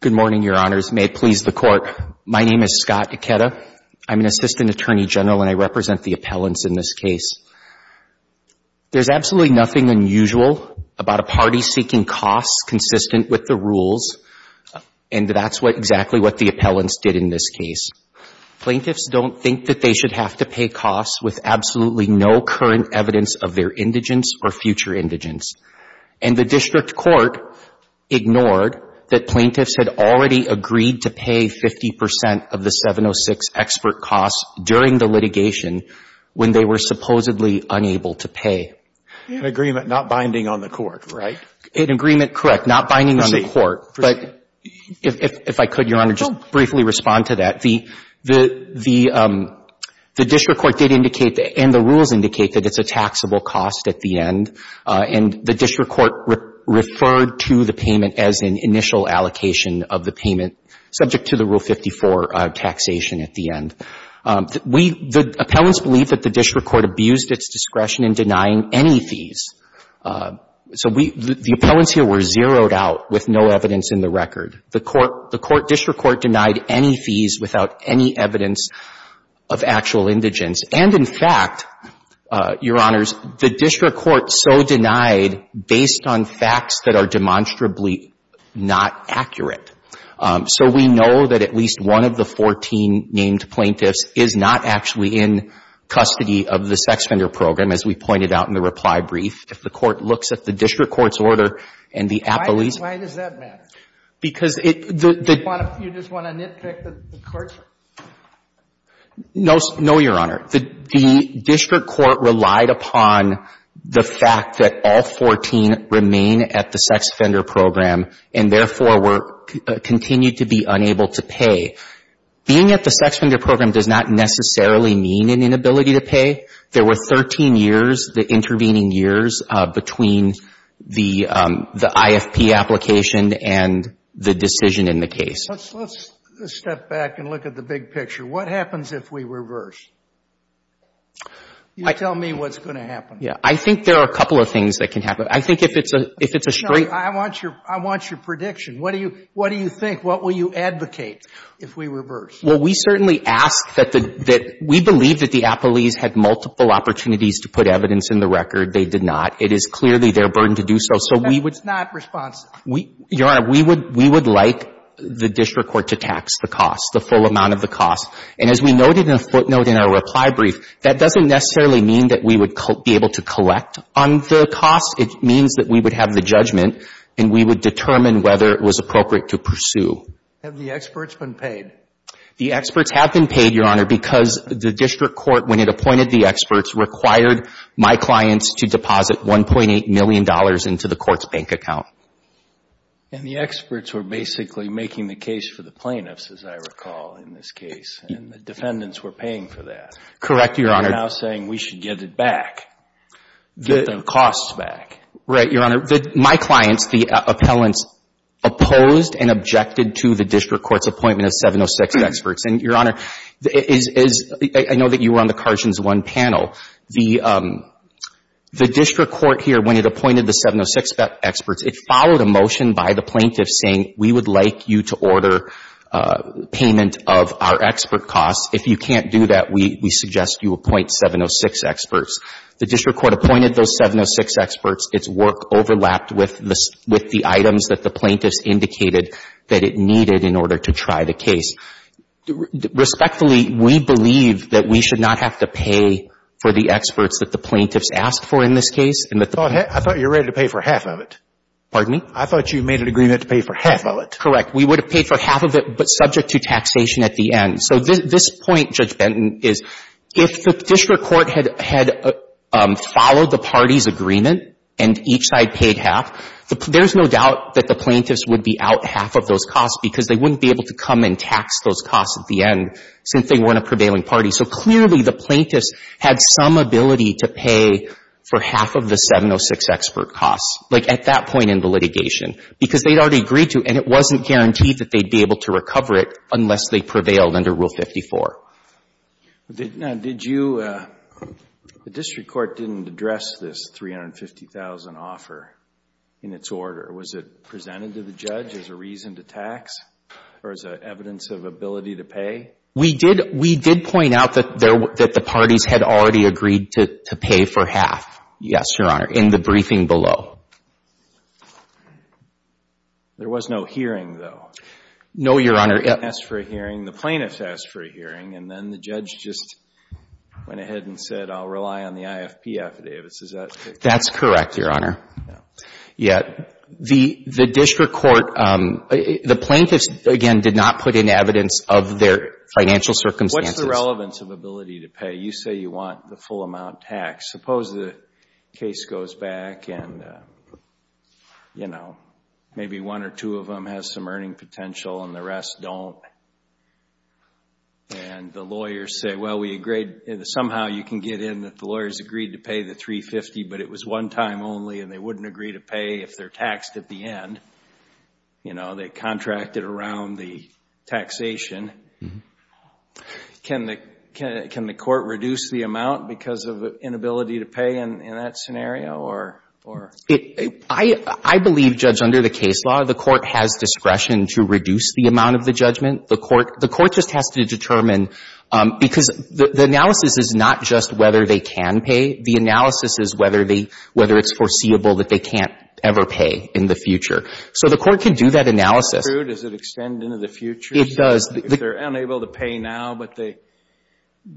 Good morning, Your Honors. May it please the Court, my name is Scott Ikeda. I'm an Assistant Attorney General and I represent the appellants in this case. There's absolutely nothing unusual about a party seeking costs consistent with the rules, and that's exactly what the appellants did in this case. Plaintiffs don't think that they should have to pay costs with absolutely no current evidence of their indigence or future indigence. And the district court ignored that plaintiffs had already agreed to pay 50 percent of the 706 expert costs during the litigation when they were supposedly unable to pay. An agreement not binding on the court, right? An agreement, correct, not binding on the court. Proceed. Proceed. If I could, Your Honor, just briefly respond to that. The district court did indicate, and the rules indicate, that it's a taxable cost at the end. And the district court referred to the payment as an initial allocation of the payment subject to the Rule 54 taxation at the end. The appellants believe that the district court abused its discretion in denying any fees. So we — the appellants here were zeroed out with no evidence in the record. The court — the district court denied any fees without any evidence of actual indigence. And, in fact, Your Honors, the district court so denied based on facts that are demonstrably not accurate. So we know that at least one of the 14 named plaintiffs is not actually in custody of the sex offender program, as we pointed out in the reply brief. If the court looks at the district court's order and the appellee's — Why does that matter? Because it — You just want to nitpick the courts? No, Your Honor. The district court relied upon the fact that all 14 remain at the sex offender program and, therefore, were — continued to be unable to pay. Being at the sex offender program does not necessarily mean an inability to pay. There were 13 years, the intervening years, between the — the IFP application and the decision in the case. Let's step back and look at the big picture. What happens if we reverse? You tell me what's going to happen. Yeah. I think there are a couple of things that can happen. I think if it's a — if it's a straight — No, I want your — I want your prediction. What do you — what do you think? What will you advocate if we reverse? Well, we certainly ask that the — that we believe that the appellees had multiple opportunities to put evidence in the record. They did not. It is clearly their burden to do so. So we would — That's not responsive. Your Honor, we would — we would like the district court to tax the cost, the full amount of the cost. And as we noted in a footnote in our reply brief, that doesn't necessarily mean that we would be able to collect on the cost. It means that we would have the judgment and we would determine whether it was appropriate to pursue. Have the experts been paid? The experts have been paid, Your Honor, because the district court, when it appointed the experts, required my clients to deposit $1.8 million into the court's bank account. And the experts were basically making the case for the plaintiffs, as I recall, in this case. And the defendants were paying for that. Correct, Your Honor. They're now saying we should get it back. Get the costs back. Right, Your Honor. My clients, the appellants, opposed and objected to the district court's appointment of 706 experts. And, Your Honor, it is — I know that you were on the Carsons 1 panel. The district court here, when it appointed the 706 experts, it followed a motion by the plaintiffs saying we would like you to order payment of our expert costs. If you can't do that, we suggest you appoint 706 experts. The district court appointed those 706 experts. Its work overlapped with the items that the plaintiffs indicated that it needed in order to try the case. Respectfully, we believe that we should not have to pay for the experts that the plaintiffs asked for in this case. I thought you were ready to pay for half of it. Pardon me? I thought you made an agreement to pay for half of it. Correct. We would have paid for half of it, but subject to taxation at the end. So this point, Judge Benton, is if the district court had followed the party's agreement and each side paid half, there's no doubt that the plaintiffs would be out half of those costs because they wouldn't be able to come and tax those costs at the end since they weren't a prevailing party. So clearly the plaintiffs had some ability to pay for half of the 706 expert costs, like at that point in the litigation, because they'd already agreed to, and it wasn't something that prevailed under Rule 54. Now, did you — the district court didn't address this $350,000 offer in its order. Was it presented to the judge as a reason to tax or as evidence of ability to pay? We did point out that the parties had already agreed to pay for half, yes, Your Honor, in the briefing below. There was no hearing, though. No, Your Honor. It asked for a hearing. The plaintiffs asked for a hearing, and then the judge just went ahead and said, I'll rely on the IFP affidavits. Is that correct? That's correct, Your Honor. Yeah. The district court — the plaintiffs, again, did not put in evidence of their financial circumstances. What's the relevance of ability to pay? You say you want the full amount taxed. Suppose the case goes back and, you know, maybe one or two of them has some earning potential and the rest don't, and the lawyers say, well, we agreed — somehow you can get in that the lawyers agreed to pay the $350,000, but it was one time only and they wouldn't agree to pay if they're taxed at the end. You know, they contracted around the taxation. Can the court reduce the amount because of inability to pay in that scenario, or? I believe, Judge, under the case law, the court has discretion to reduce the amount of the judgment. The court just has to determine — because the analysis is not just whether they can pay. The analysis is whether it's foreseeable that they can't ever pay in the future. So the court can do that analysis. Is that true? Does it extend into the future? It does. If they're unable to pay now but the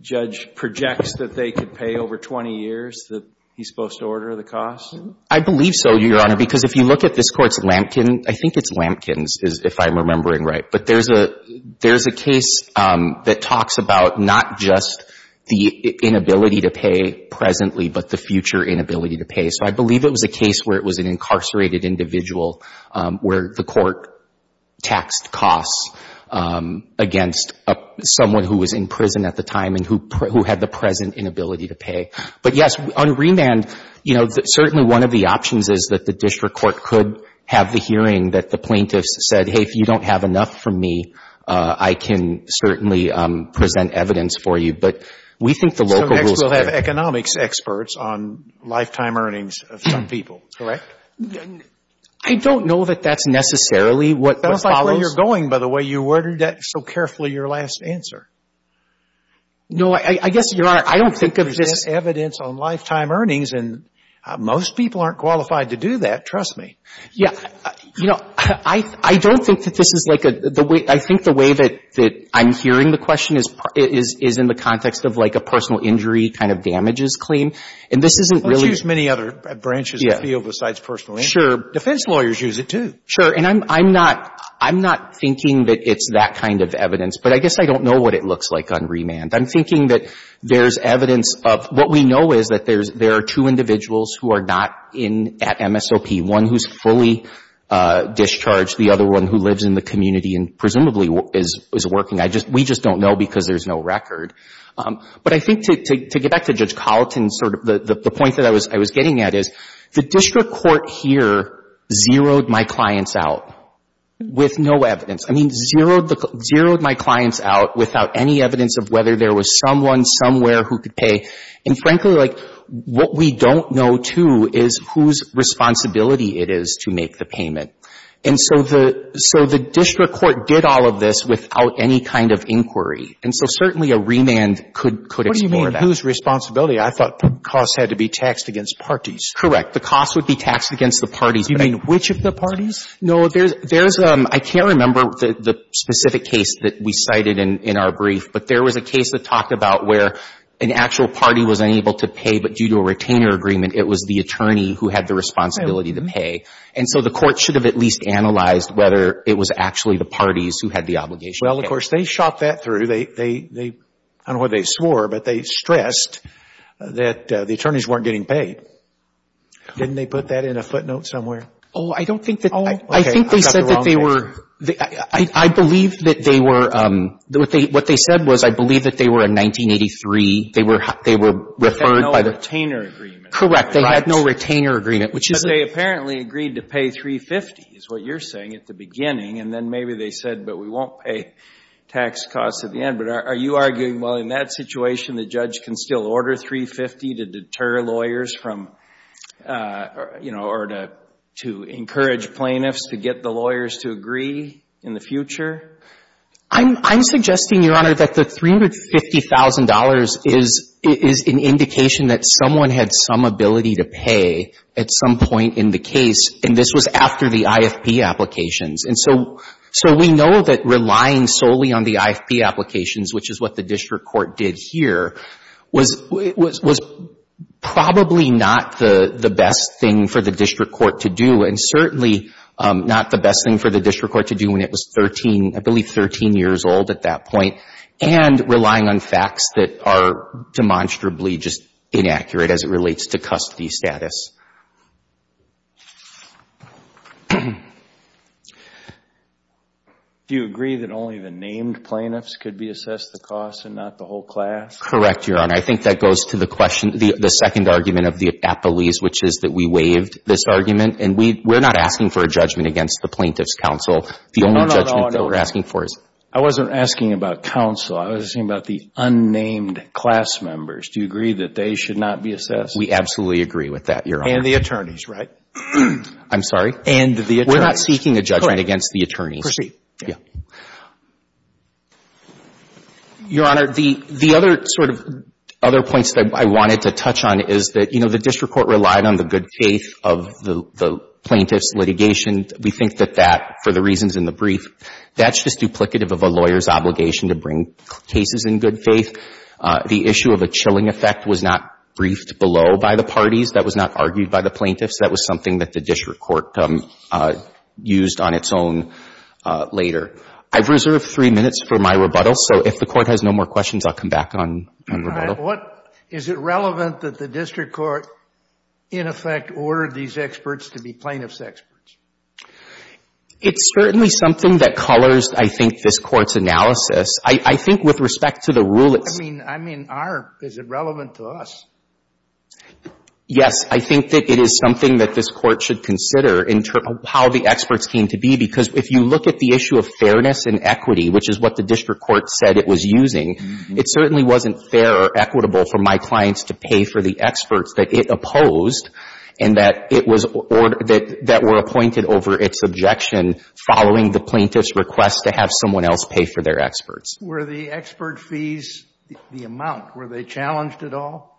judge projects that they could pay over 20 years, that he's supposed to order the cost? I believe so, Your Honor, because if you look at this Court's Lampkin — I think it's Lampkin's, if I'm remembering right. But there's a — there's a case that talks about not just the inability to pay presently but the future inability to pay. So I believe it was a case where it was an incarcerated individual where the court taxed costs against someone who was in prison at the time and who had the present inability to pay. But, yes, on remand, you know, certainly one of the options is that the district court could have the hearing that the plaintiffs said, hey, if you don't have enough from me, I can certainly present evidence for you. But we think the local rules — So next we'll have economics experts on lifetime earnings of some people. Correct. I don't know that that's necessarily what follows. That looks like where you're going, by the way. You ordered that so carefully, your last answer. No. I guess, Your Honor, I don't think of this — I don't think of this as evidence on lifetime earnings. And most people aren't qualified to do that, trust me. Yeah. You know, I don't think that this is like a — I think the way that I'm hearing the question is in the context of like a personal injury kind of damages claim. And this isn't really — Let's use many other branches of the field besides personal injury. Sure. Defense lawyers use it, too. Sure. And I'm not — I'm not thinking that it's that kind of evidence. But I guess I don't know what it looks like on remand. I'm thinking that there's evidence of — what we know is that there are two individuals who are not at MSOP, one who's fully discharged, the other one who lives in the community and presumably is working. We just don't know because there's no record. But I think to get back to Judge Colleton, sort of the point that I was getting at is the district court here zeroed my clients out with no evidence. I mean, zeroed the — zeroed my clients out without any evidence of whether there was someone somewhere who could pay. And frankly, like, what we don't know, too, is whose responsibility it is to make the payment. And so the — so the district court did all of this without any kind of inquiry. And so certainly a remand could explore that. What do you mean whose responsibility? I thought the costs had to be taxed against parties. Correct. The costs would be taxed against the parties. Do you mean which of the parties? No, there's — I can't remember the specific case that we cited in our brief, but there was a case that talked about where an actual party was unable to pay, but due to a retainer agreement, it was the attorney who had the responsibility to pay. And so the court should have at least analyzed whether it was actually the parties who had the obligation to pay. Well, of course, they shot that through. They — I don't know what they swore, but they stressed that the attorneys weren't getting paid. Didn't they put that in a footnote somewhere? Oh, I don't think that — Oh, okay. I got the wrong picture. I think they said that they were — I believe that they were — what they said was I believe that they were in 1983. They were referred by the — They had no retainer agreement. Correct. They had no retainer agreement, which is — But they apparently agreed to pay $350, is what you're saying, at the beginning. And then maybe they said, but we won't pay tax costs at the end. But are you arguing, well, in that situation, the judge can still order $350 to deter lawyers from — you know, or to encourage plaintiffs to get the lawyers to agree in the future? I'm suggesting, Your Honor, that the $350,000 is an indication that someone had some ability to pay at some point in the case, and this was after the IFP applications. And so we know that relying solely on the IFP applications, which is what the district court did here, was probably not the best thing for the district court to do, and certainly not the best thing for the district court to do when it was 13 — I believe 13 years old at that point, and relying on facts that are demonstrably just inaccurate as it relates to custody status. Do you agree that only the named plaintiffs could be assessed the cost and not the whole class? Correct, Your Honor. I think that goes to the question — the second argument of the appellees, which is that we waived this argument. And we're not asking for a judgment against the Plaintiffs' Counsel. No, no, no. The only judgment that we're asking for is — I wasn't asking about counsel. I was asking about the unnamed class members. Do you agree that they should not be assessed? We absolutely agree with that, Your Honor. And the attorneys, right? I'm sorry? And the attorneys. We're not seeking a judgment against the attorneys. Correct. Proceed. Yeah. Your Honor, the other sort of — other points that I wanted to touch on is that, you know, the district court relied on the good faith of the plaintiffs' litigation. We think that that, for the reasons in the brief, that's just duplicative of a lawyer's obligation to bring cases in good faith. The issue of a chilling effect was not briefed below by the parties. That was not argued by the plaintiffs. That was something that the district court used on its own later. I've reserved three minutes for my rebuttal. So if the Court has no more questions, I'll come back on rebuttal. All right. What — is it relevant that the district court, in effect, ordered these experts to be plaintiffs' experts? It's certainly something that colors, I think, this Court's analysis. I think with respect to the rule — I mean — I mean, our — is it relevant to us? Yes. I think that it is something that this Court should consider in how the experts came to be, because if you look at the issue of fairness and equity, which is what the district court said it was using, it certainly wasn't fair or equitable for my experts that it opposed and that it was — or that were appointed over its objection following the plaintiff's request to have someone else pay for their experts. Were the expert fees the amount? Were they challenged at all?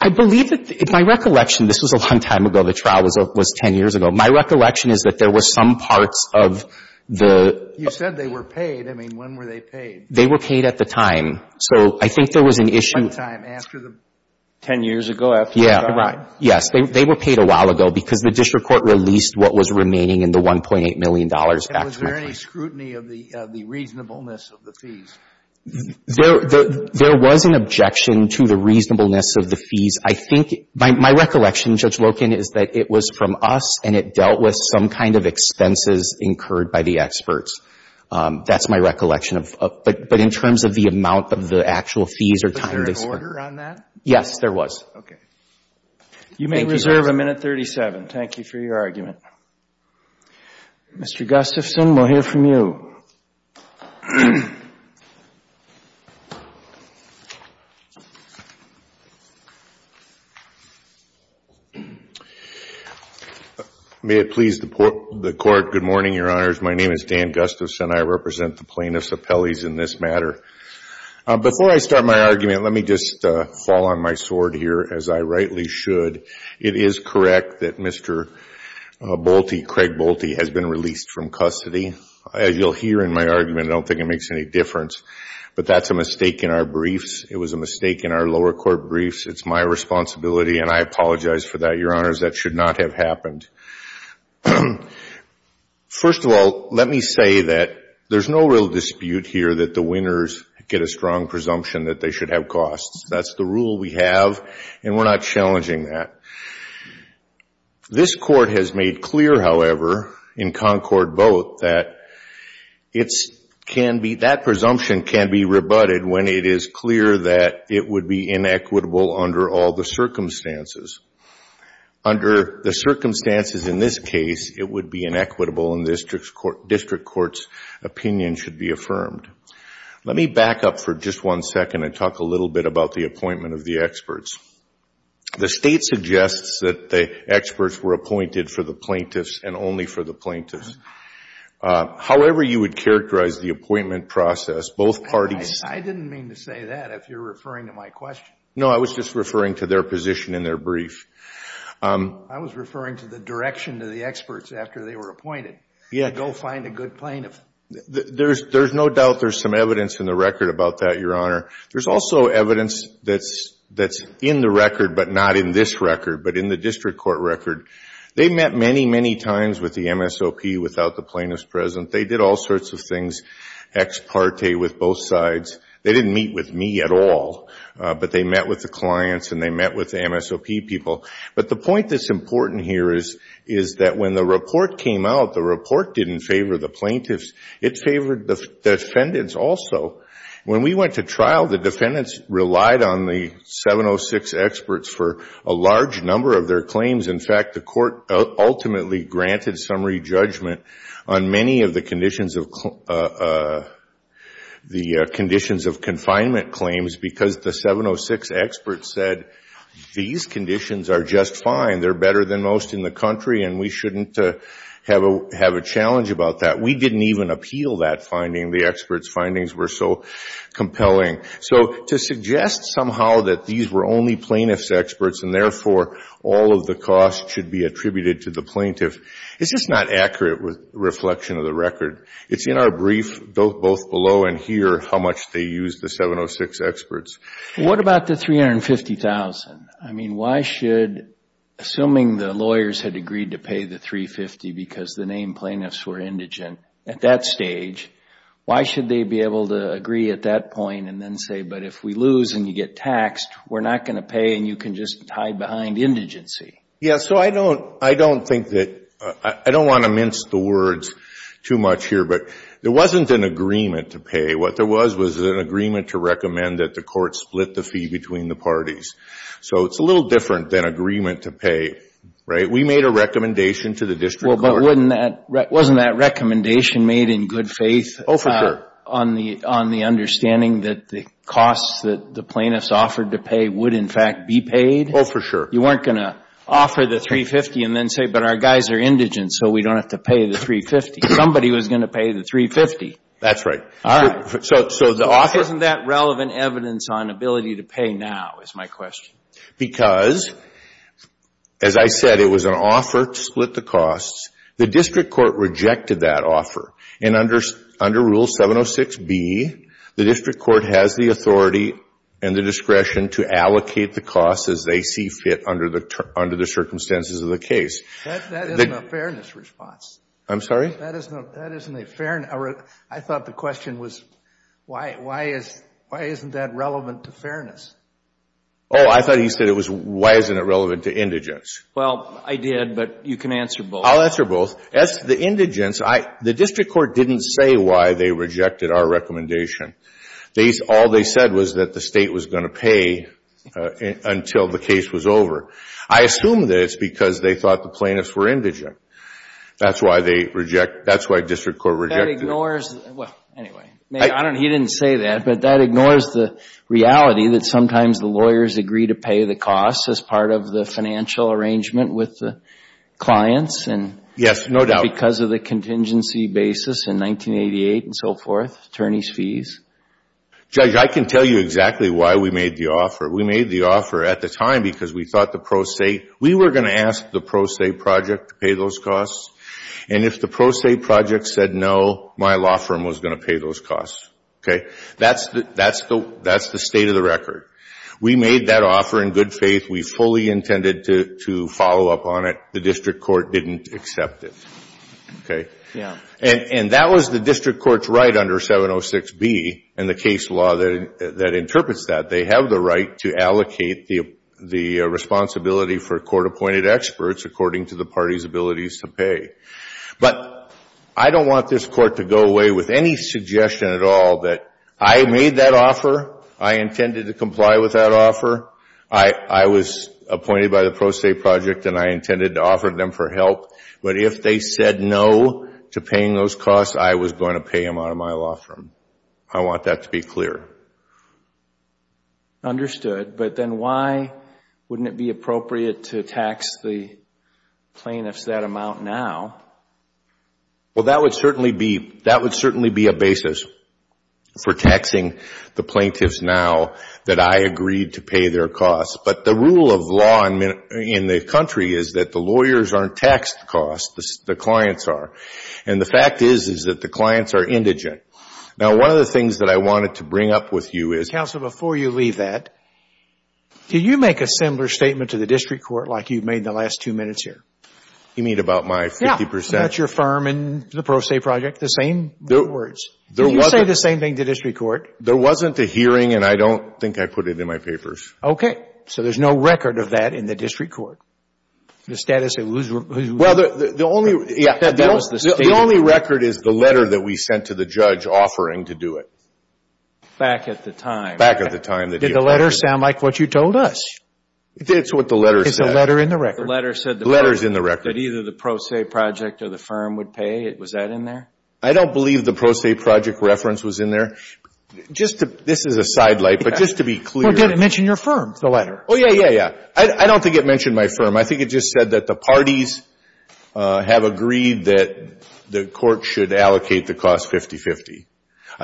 I believe that — in my recollection, this was a long time ago. The trial was 10 years ago. My recollection is that there were some parts of the — You said they were paid. I mean, when were they paid? They were paid at the time. So I think there was an issue — 10 years ago after they died? Yeah. Right. Yes. They were paid a while ago because the district court released what was remaining in the $1.8 million actually. And was there any scrutiny of the reasonableness of the fees? There was an objection to the reasonableness of the fees. I think — my recollection, Judge Loken, is that it was from us and it dealt with some kind of expenses incurred by the experts. That's my recollection of — but in terms of the amount of the actual fees or time they spent — Was there an order on that? Yes, there was. Okay. You may reserve a minute 37. Thank you for your argument. Mr. Gustafson, we'll hear from you. May it please the Court, good morning, Your Honors. My name is Dan Gustafson. I represent the plaintiffs' appellees in this matter. Before I start my argument, let me just fall on my sword here, as I rightly should. It is correct that Mr. Bolte, Craig Bolte, has been released from custody. As you'll hear in my argument, I don't think it makes any difference. But that's a mistake in our briefs. It was a mistake in our lower court briefs. It's my responsibility, and I apologize for that, Your Honors. That should not have happened. First of all, let me say that there's no real dispute here that the winners get a strong presumption that they should have costs. That's the rule we have, and we're not challenging that. This Court has made clear, however, in Concord both, that it can be — that presumption can be rebutted when it is clear that it would be inequitable under all the circumstances. Under the circumstances in this case, it would be inequitable, and this District Court's opinion should be affirmed. Let me back up for just one second and talk a little bit about the appointment of the experts. The State suggests that the experts were appointed for the plaintiffs and only for the plaintiffs. However you would characterize the appointment process, both parties — I didn't mean to say that, if you're referring to my question. No, I was just referring to their position in their brief. I was referring to the direction to the experts after they were appointed. Go find a good plaintiff. There's no doubt there's some evidence in the record about that, Your Honor. There's also evidence that's in the record, but not in this record, but in the District Court record. They met many, many times with the MSOP without the plaintiffs present. They did all sorts of things ex parte with both sides. They didn't meet with me at all, but they met with the clients and they met with the MSOP people. But the point that's important here is that when the report came out, the report didn't favor the plaintiffs. It favored the defendants also. When we went to trial, the defendants relied on the 706 experts for a large number of their claims. In fact, the court ultimately granted summary judgment on many of the conditions of confinement claims because the 706 experts said these conditions are just fine, they're better than most in the country, and we shouldn't have a challenge about that. We didn't even appeal that finding. The experts' findings were so compelling. So to suggest somehow that these were only plaintiffs' experts and therefore all of the costs should be attributed to the plaintiff, it's just not accurate reflection of the record. It's in our brief, both below and here, how much they used the 706 experts. What about the $350,000? I mean, why should, assuming the lawyers had agreed to pay the $350,000 because the named plaintiffs were indigent at that stage, why should they be able to agree at that point and then say, but if we lose and you get taxed, we're not going to pay and you can just hide behind indigency. Yeah, so I don't think that – I don't want to mince the words too much here, but there wasn't an agreement to pay. What there was was an agreement to recommend that the court split the fee between the parties. So it's a little different than agreement to pay, right? We made a recommendation to the district court. Wasn't that recommendation made in good faith? Oh, for sure. On the understanding that the costs that the plaintiffs offered to pay would in fact be paid? Oh, for sure. You weren't going to offer the $350,000 and then say, but our guys are indigent, so we don't have to pay the $350,000. Somebody was going to pay the $350,000. That's right. All right. Isn't that relevant evidence on ability to pay now is my question? Because, as I said, it was an offer to split the costs. The district court rejected that offer, and under Rule 706B, the district court has the authority and the discretion to allocate the costs as they see fit under the circumstances of the case. That isn't a fairness response. I'm sorry? That isn't a fairness – I thought the question was why isn't that relevant to fairness? Oh, I thought he said it was why isn't it relevant to indigence. Well, I did, but you can answer both. I'll answer both. As to the indigence, the district court didn't say why they rejected our recommendation. All they said was that the State was going to pay until the case was over. I assume that it's because they thought the plaintiffs were indigent. That's why district court rejected it. That ignores – well, anyway. He didn't say that, but that ignores the reality that sometimes the lawyers agree to pay the costs as part of the financial arrangement with the clients. Yes, no doubt. Because of the contingency basis in 1988 and so forth, attorney's fees. Judge, I can tell you exactly why we made the offer. We made the offer at the time because we thought the pro se – we were going to ask the pro se project to pay those costs, and if the pro se project said no, my law firm was going to pay those costs. Okay? That's the state of the record. We made that offer in good faith. We fully intended to follow up on it. The district court didn't accept it. Okay? Yeah. And that was the district court's right under 706B and the case law that interprets that. They have the right to allocate the responsibility for court-appointed experts according to the party's abilities to pay. But I don't want this court to go away with any suggestion at all that I made that offer, I intended to comply with that offer, I was appointed by the pro se project and I intended to offer them for help, but if they said no to paying those costs, I was going to pay them out of my law firm. I want that to be clear. Understood. But then why wouldn't it be appropriate to tax the plaintiffs that amount now? Well, that would certainly be a basis for taxing the plaintiffs now that I agreed to pay their costs. But the rule of law in the country is that the lawyers aren't taxed costs, the clients are. And the fact is that the clients are indigent. Now, one of the things that I wanted to bring up with you is, Counsel, before you leave that, can you make a similar statement to the district court like you've made in the last two minutes here? You mean about my 50%? Yeah, that's your firm and the pro se project, the same words. Can you say the same thing to the district court? There wasn't a hearing and I don't think I put it in my papers. Okay. So there's no record of that in the district court, the status of whose record? Well, the only record is the letter that we sent to the judge offering to do it. Back at the time. Back at the time. Did the letter sound like what you told us? It's what the letter said. It's a letter in the record. The letter said that either the pro se project or the firm would pay. Was that in there? I don't believe the pro se project reference was in there. This is a sidelight, but just to be clear. Well, did it mention your firm, the letter? Oh, yeah, yeah, yeah. I don't think it mentioned my firm. I think it just said that the parties have agreed that the court should allocate the cost 50-50.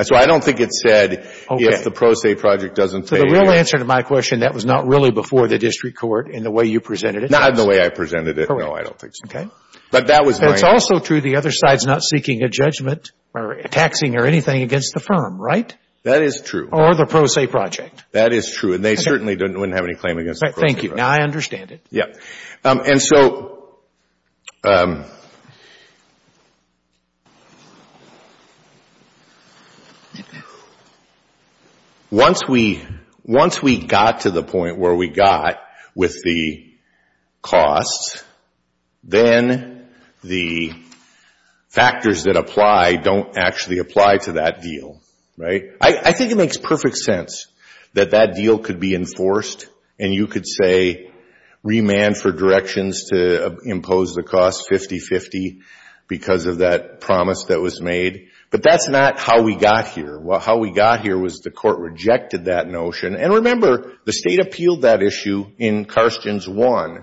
So I don't think it said if the pro se project doesn't pay. The real answer to my question, that was not really before the district court in the way you presented it. Not in the way I presented it. No, I don't think so. But that was my answer. It's also true the other side's not seeking a judgment or taxing or anything against the firm, right? That is true. Or the pro se project. That is true. And they certainly wouldn't have any claim against the pro se project. Thank you. Now I understand it. And so once we got to the point where we got with the costs, then the factors that apply don't actually apply to that deal, right? I think it makes perfect sense that that deal could be enforced. And you could say remand for directions to impose the cost 50-50 because of that promise that was made. But that's not how we got here. How we got here was the court rejected that notion. And remember, the state appealed that issue in Carstens I.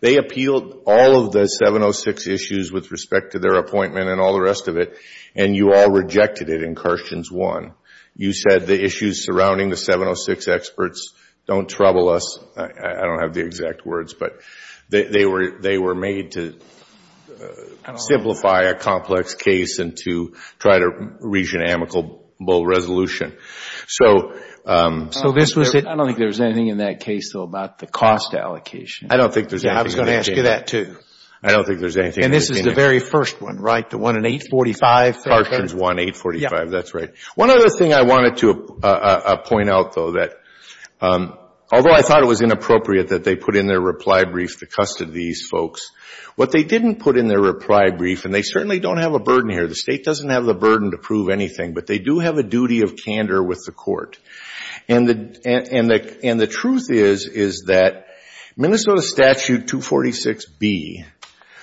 They appealed all of the 706 issues with respect to their appointment and all the rest of it. And you all rejected it in Carstens I. You said the issues surrounding the 706 experts don't trouble us. I don't have the exact words. But they were made to simplify a complex case and to try to reach an amicable resolution. So this was it. I don't think there's anything in that case, though, about the cost allocation. I don't think there's anything. I was going to ask you that, too. I don't think there's anything. And this is the very first one, right? The one in 845? Carstens I, 845. That's right. One other thing I wanted to point out, though, that although I thought it was inappropriate that they put in their reply brief to custody these folks, what they didn't put in their reply brief, and they certainly don't have a burden here. The state doesn't have the burden to prove anything. But they do have a duty of candor with the court. And the truth is, is that Minnesota Statute 246B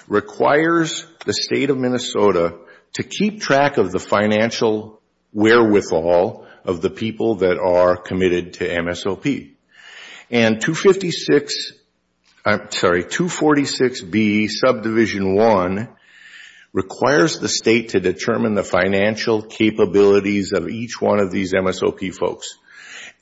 requires the state of Minnesota to keep track of the financial wherewithal of the people that are committed to MSOP. And 246B, Subdivision 1, requires the state to determine the financial capabilities of each one of these MSOP folks.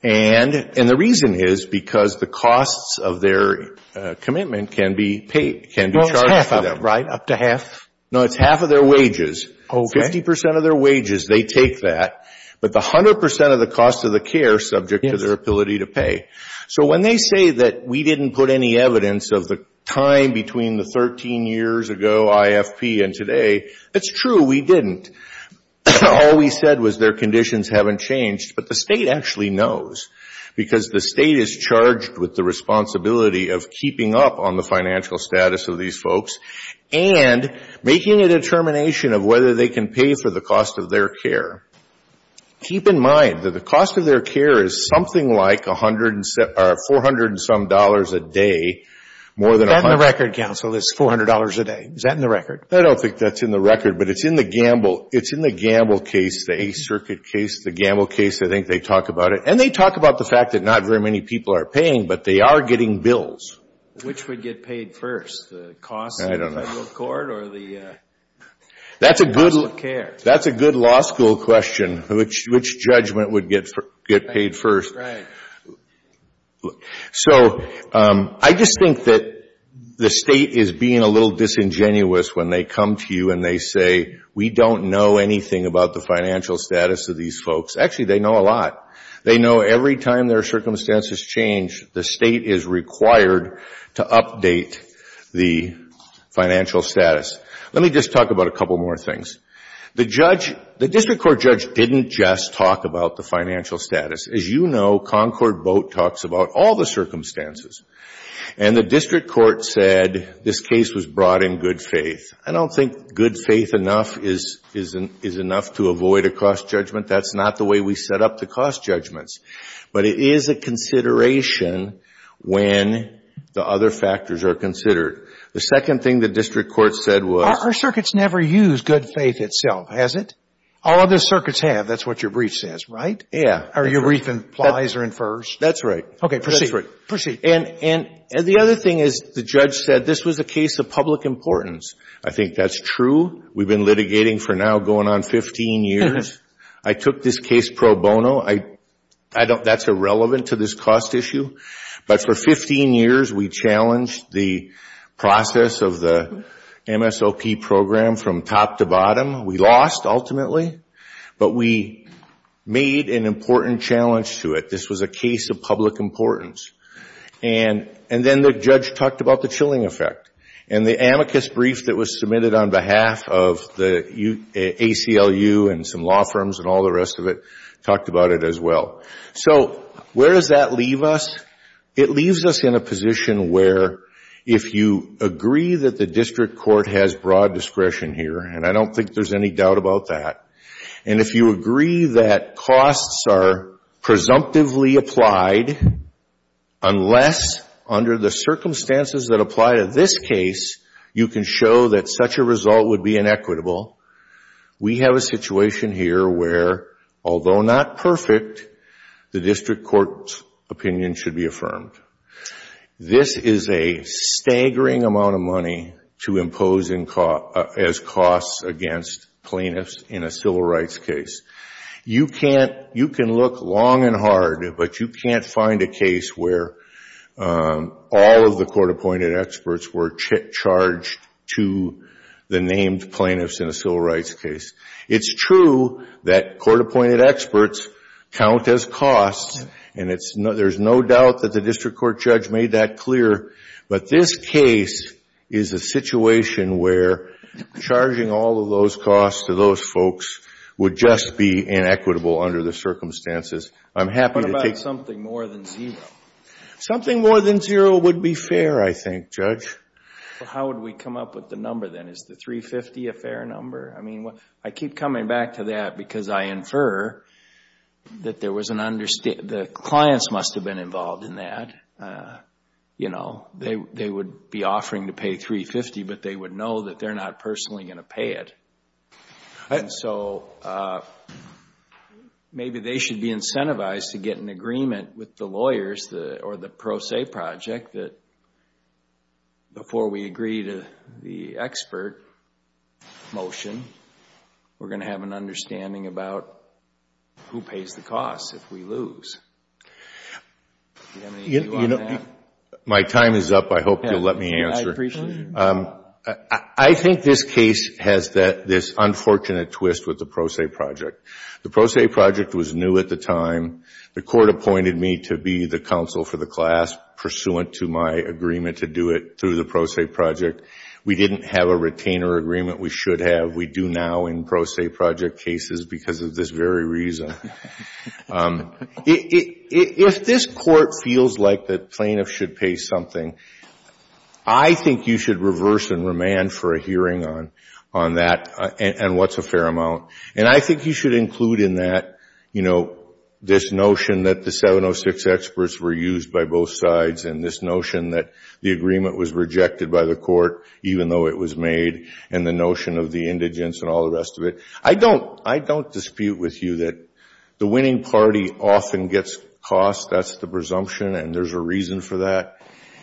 And the reason is because the costs of their commitment can be charged for them. Well, it's half, right? Up to half? No, it's half of their wages. Fifty percent of their wages, they take that. But the hundred percent of the cost of the care is subject to their ability to pay. So when they say that we didn't put any evidence of the time between the 13 years ago, IFP, and today, it's true. We didn't. All we said was their conditions haven't changed. But the state actually knows, because the state is charged with the responsibility of keeping up on the financial status of their care. Keep in mind that the cost of their care is something like $400 some dollars a day, more than a hundred. Is that in the record, counsel, is $400 a day? Is that in the record? I don't think that's in the record, but it's in the gamble. It's in the gamble case, the Eighth Circuit case, the gamble case, I think they talk about it. And they talk about the fact that not very many people are paying, but they are getting bills. Which would get paid first, the costs of the federal court or the cost of care? That's a good law school question, which judgment would get paid first. So I just think that the state is being a little disingenuous when they come to you and they say, we don't know anything about the financial status of these folks. Actually, they know a lot. They know every time their circumstances change, the state is required to update the financial status. Let me just talk about a couple more things. The judge, the district court judge didn't just talk about the financial status. As you know, Concord Boat talks about all the circumstances. And the district court said this case was brought in good faith. I don't think good faith enough is enough to avoid a cost judgment. That's not the way we set up the cost judgments. But it is a consideration when the other factors are considered. The second thing the district court said was... Our circuits never use good faith itself, has it? All other circuits have. That's what your brief says, right? Yeah. Or your brief implies or infers. That's right. Okay, proceed. And the other thing is the judge said this was a case of public importance. I think that's true. We've been litigating for now going on 15 years. I took this case pro bono. That's irrelevant to this cost issue. But for 15 years we challenged the process of the MSOP program from top to bottom. We lost, ultimately. But we made an important challenge to it. This was a case of public importance. And then the judge talked about the chilling effect. And the amicus brief that was submitted on behalf of the ACLU and some law firms and all the rest of it talked about it as well. So where does that leave us? It leaves us in a position where if you agree that the district court has broad discretion here, and I don't think there's any doubt about that, and if you agree that costs are presumptively applied unless under the circumstances that apply to this case you can show that such a result would be inequitable, we have a situation here where, although not perfect, the district court's opinion should be affirmed. This is a staggering amount of money to impose as costs against plaintiffs in a civil rights case. You can look long and hard, but you can't find a case where all of the court-appointed experts were charged to the named plaintiffs in a civil rights case. It's true that court-appointed experts count as costs, and there's no doubt that the district court judge made that clear, but this case is a situation where charging all of those costs to those folks would just be inequitable under the circumstances. I'm happy to take... What about something more than zero? Something more than zero would be fair, I think, Judge. Well, how would we come up with the number then? Is the $350,000 a fair number? I mean, I keep coming back to that because I infer that the clients must have been involved in that. You know, they would be offering to pay $350,000, but they would know that they're not personally going to pay it. And so maybe they should be incentivized to get an agreement with the lawyers or the Pro Se Project that before we agree to the expert motion, we're going to have an understanding about who pays the costs if we lose. Do you have any view on that? My time is up. I hope you'll let me answer. I appreciate it. I think this case has this unfortunate twist with the Pro Se Project. The Pro Se Project was new at the time. The Court appointed me to be the counsel for the class, pursuant to my agreement to do it through the Pro Se Project. We didn't have a retainer agreement we should have. We do now in Pro Se Project cases because of this very reason. If this Court feels like the plaintiff should pay something, I think you should reverse and remand for a hearing on that and what's a fair amount. And I think you should include in that, you know, this notion that the 706 experts were used by both sides and this notion that the agreement was rejected by the Court, even though it was made, and the notion of the indigence and all the rest of it. I don't dispute with you that the winning party often gets cost. That's the presumption, and there's a reason for that.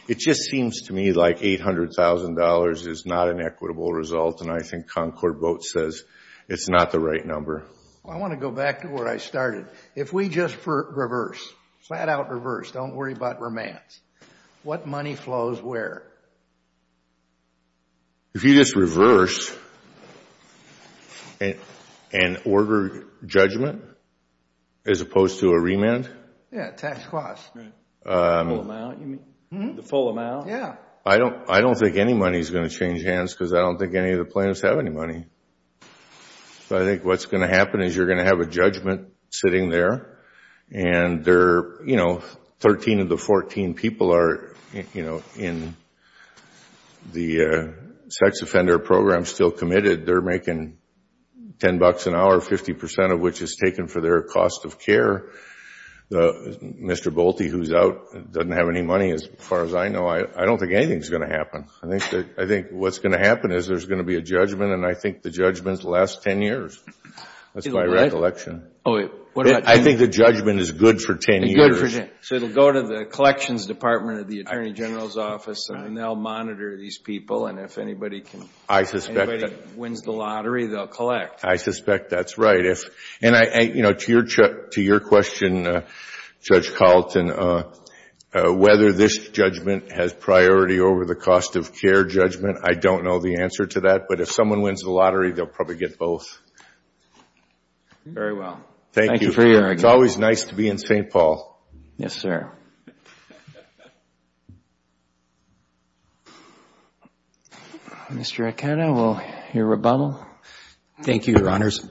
It just seems to me like $800,000 is not an equitable result, and I think Concord Boat says it's not the right number. I want to go back to where I started. If we just reverse, flat out reverse, don't worry about remands, what money flows where? If you just reverse and order judgment as opposed to a remand? Yeah, tax cost. The full amount? Yeah. I don't think any money is going to change hands because I don't think any of the plaintiffs have any money. So I think what's going to happen is you're going to have a judgment sitting there, and 13 of the 14 people are in the sex offender program still committed. They're making $10 an hour, 50% of which is taken for their cost of care. Mr. Bolte, who's out, doesn't have any money as far as I know. I don't think anything's going to happen. I think what's going to happen is there's going to be a judgment, and I think the judgment lasts 10 years. That's my recollection. I think the judgment is good for 10 years. It's good for 10. So it will go to the collections department of the attorney general's office, and they'll monitor these people, and if anybody wins the lottery, they'll collect. I suspect that's right. To your question, Judge Carlton, whether this judgment has priority over the cost of care judgment, I don't know the answer to that. But if someone wins the lottery, they'll probably get both. Very well. Thank you. Thank you for your argument. It's always nice to be in St. Paul. Yes, sir. Mr. Acata, we'll hear rebuttal. Thank you, Your Honors.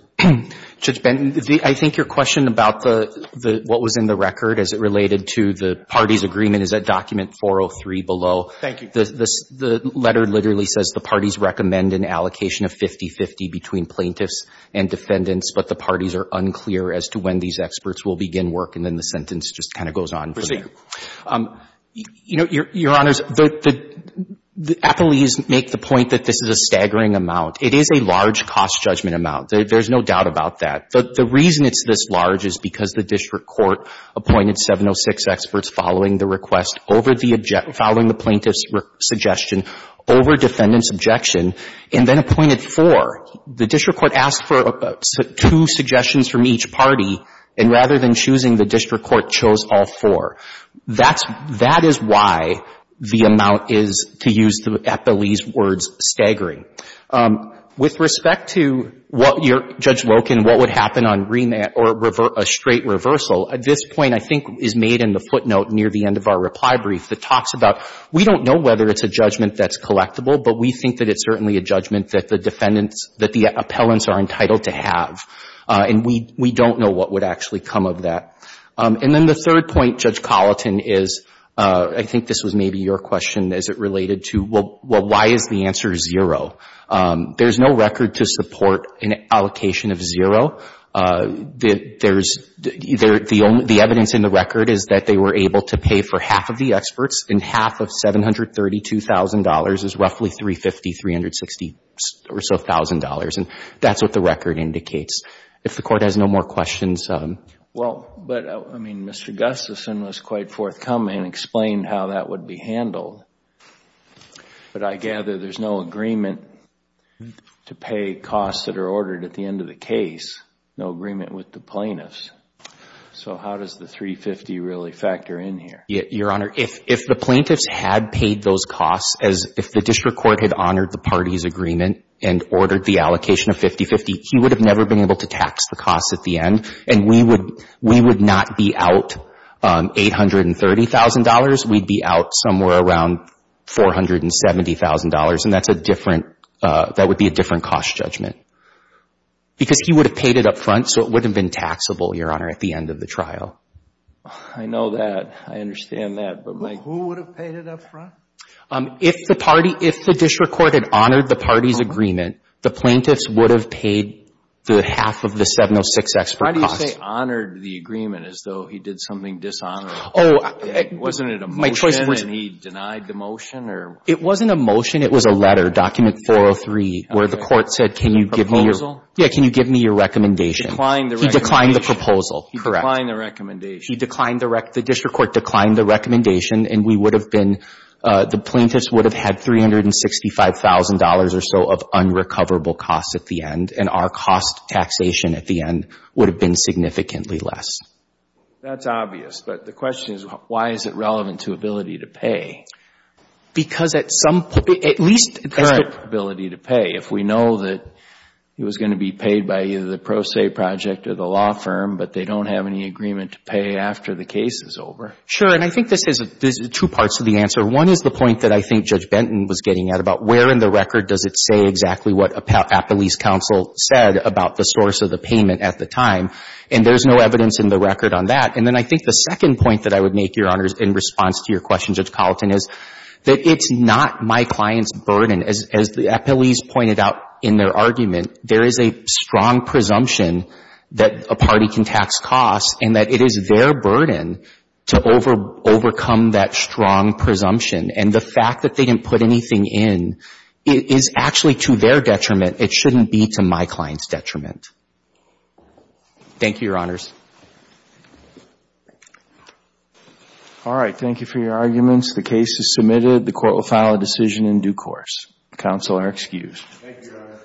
Judge Benton, I think your question about what was in the record as it related to the parties' agreement is at document 403 below. Thank you. The letter literally says the parties recommend an allocation of 50-50 between plaintiffs and defendants, but the parties are unclear as to when these experts will begin work. And then the sentence just kind of goes on from there. You know, Your Honors, the appellees make the point that this is a staggering amount. It is a large cost judgment amount. There's no doubt about that. The reason it's this large is because the district court appointed 706 experts following the request, following the plaintiff's suggestion, over defendant's objection, and then appointed four. The district court asked for two suggestions from each party, and rather than choosing, the district court chose all four. That is why the amount is, to use the appellee's words, staggering. With respect to Judge Loken, what would happen on remand or a straight reversal, this point I think is made in the footnote near the end of our reply brief that talks about, we don't know whether it's a judgment that's collectible, but we think that it's certainly a judgment that the defendants, that the appellants are entitled to have. And we don't know what would actually come of that. And then the third point, Judge Colleton, is, I think this was maybe your question, is it related to, well, why is the answer zero? There's no record to support an allocation of zero. There's, the evidence in the record is that they were able to pay for half of the experts, and half of $732,000 is roughly $350,000, $360,000 or so, and that's what the record indicates. If the Court has no more questions. Well, but, I mean, Mr. Gustafson was quite forthcoming and explained how that would be handled. But I gather there's no agreement to pay costs that are ordered at the end of the case, no agreement with the plaintiffs. So how does the $350,000 really factor in here? Your Honor, if the plaintiffs had paid those costs, as if the District Court had honored the parties' agreement and ordered the allocation of $50,000, he would have never been able to tax the costs at the end, and we would not be out $830,000. We'd be out somewhere around $470,000, and that's a different, that would be a different cost judgment. Because he would have paid it up front, so it would have been taxable, Your Honor, at the end of the trial. I know that. I understand that. Who would have paid it up front? If the party, if the District Court had honored the parties' agreement, the plaintiffs would have paid the half of the 706X for costs. Why do you say honored the agreement, as though he did something dishonorable? Wasn't it a motion, and he denied the motion, or? It wasn't a motion. It was a letter, Document 403, where the court said, can you give me your, yeah, can you give me your recommendation? He declined the recommendation. He declined the proposal, correct. He declined the recommendation. He declined the, the District Court declined the recommendation, and we would have been, the plaintiffs would have had $365,000 or so of unrecoverable costs at the end, and our cost taxation at the end would have been significantly less. That's obvious. But the question is, why is it relevant to ability to pay? Because at some point, at least at this point. Current ability to pay. If we know that it was going to be paid by either the Pro Se Project or the law firm, but they don't have any agreement to pay after the case is over. Sure. And I think this is, there's two parts to the answer. One is the point that I think Judge Benton was getting at, about where in the record does it say exactly what a police counsel said about the source of the payment at the time. And there's no evidence in the record on that. And then I think the second point that I would make, Your Honors, in response to your question, Judge Colleton, is that it's not my client's burden. As, as the appellees pointed out in their argument, there is a strong presumption that a party can tax costs and that it is their burden to over, overcome that strong presumption. And the fact that they didn't put anything in is actually to their detriment. It shouldn't be to my client's detriment. Thank you, Your Honors. All right. Thank you for your arguments. The case is submitted. The court will file a decision in due course. Counsel are excused. Thank you, Your Honor.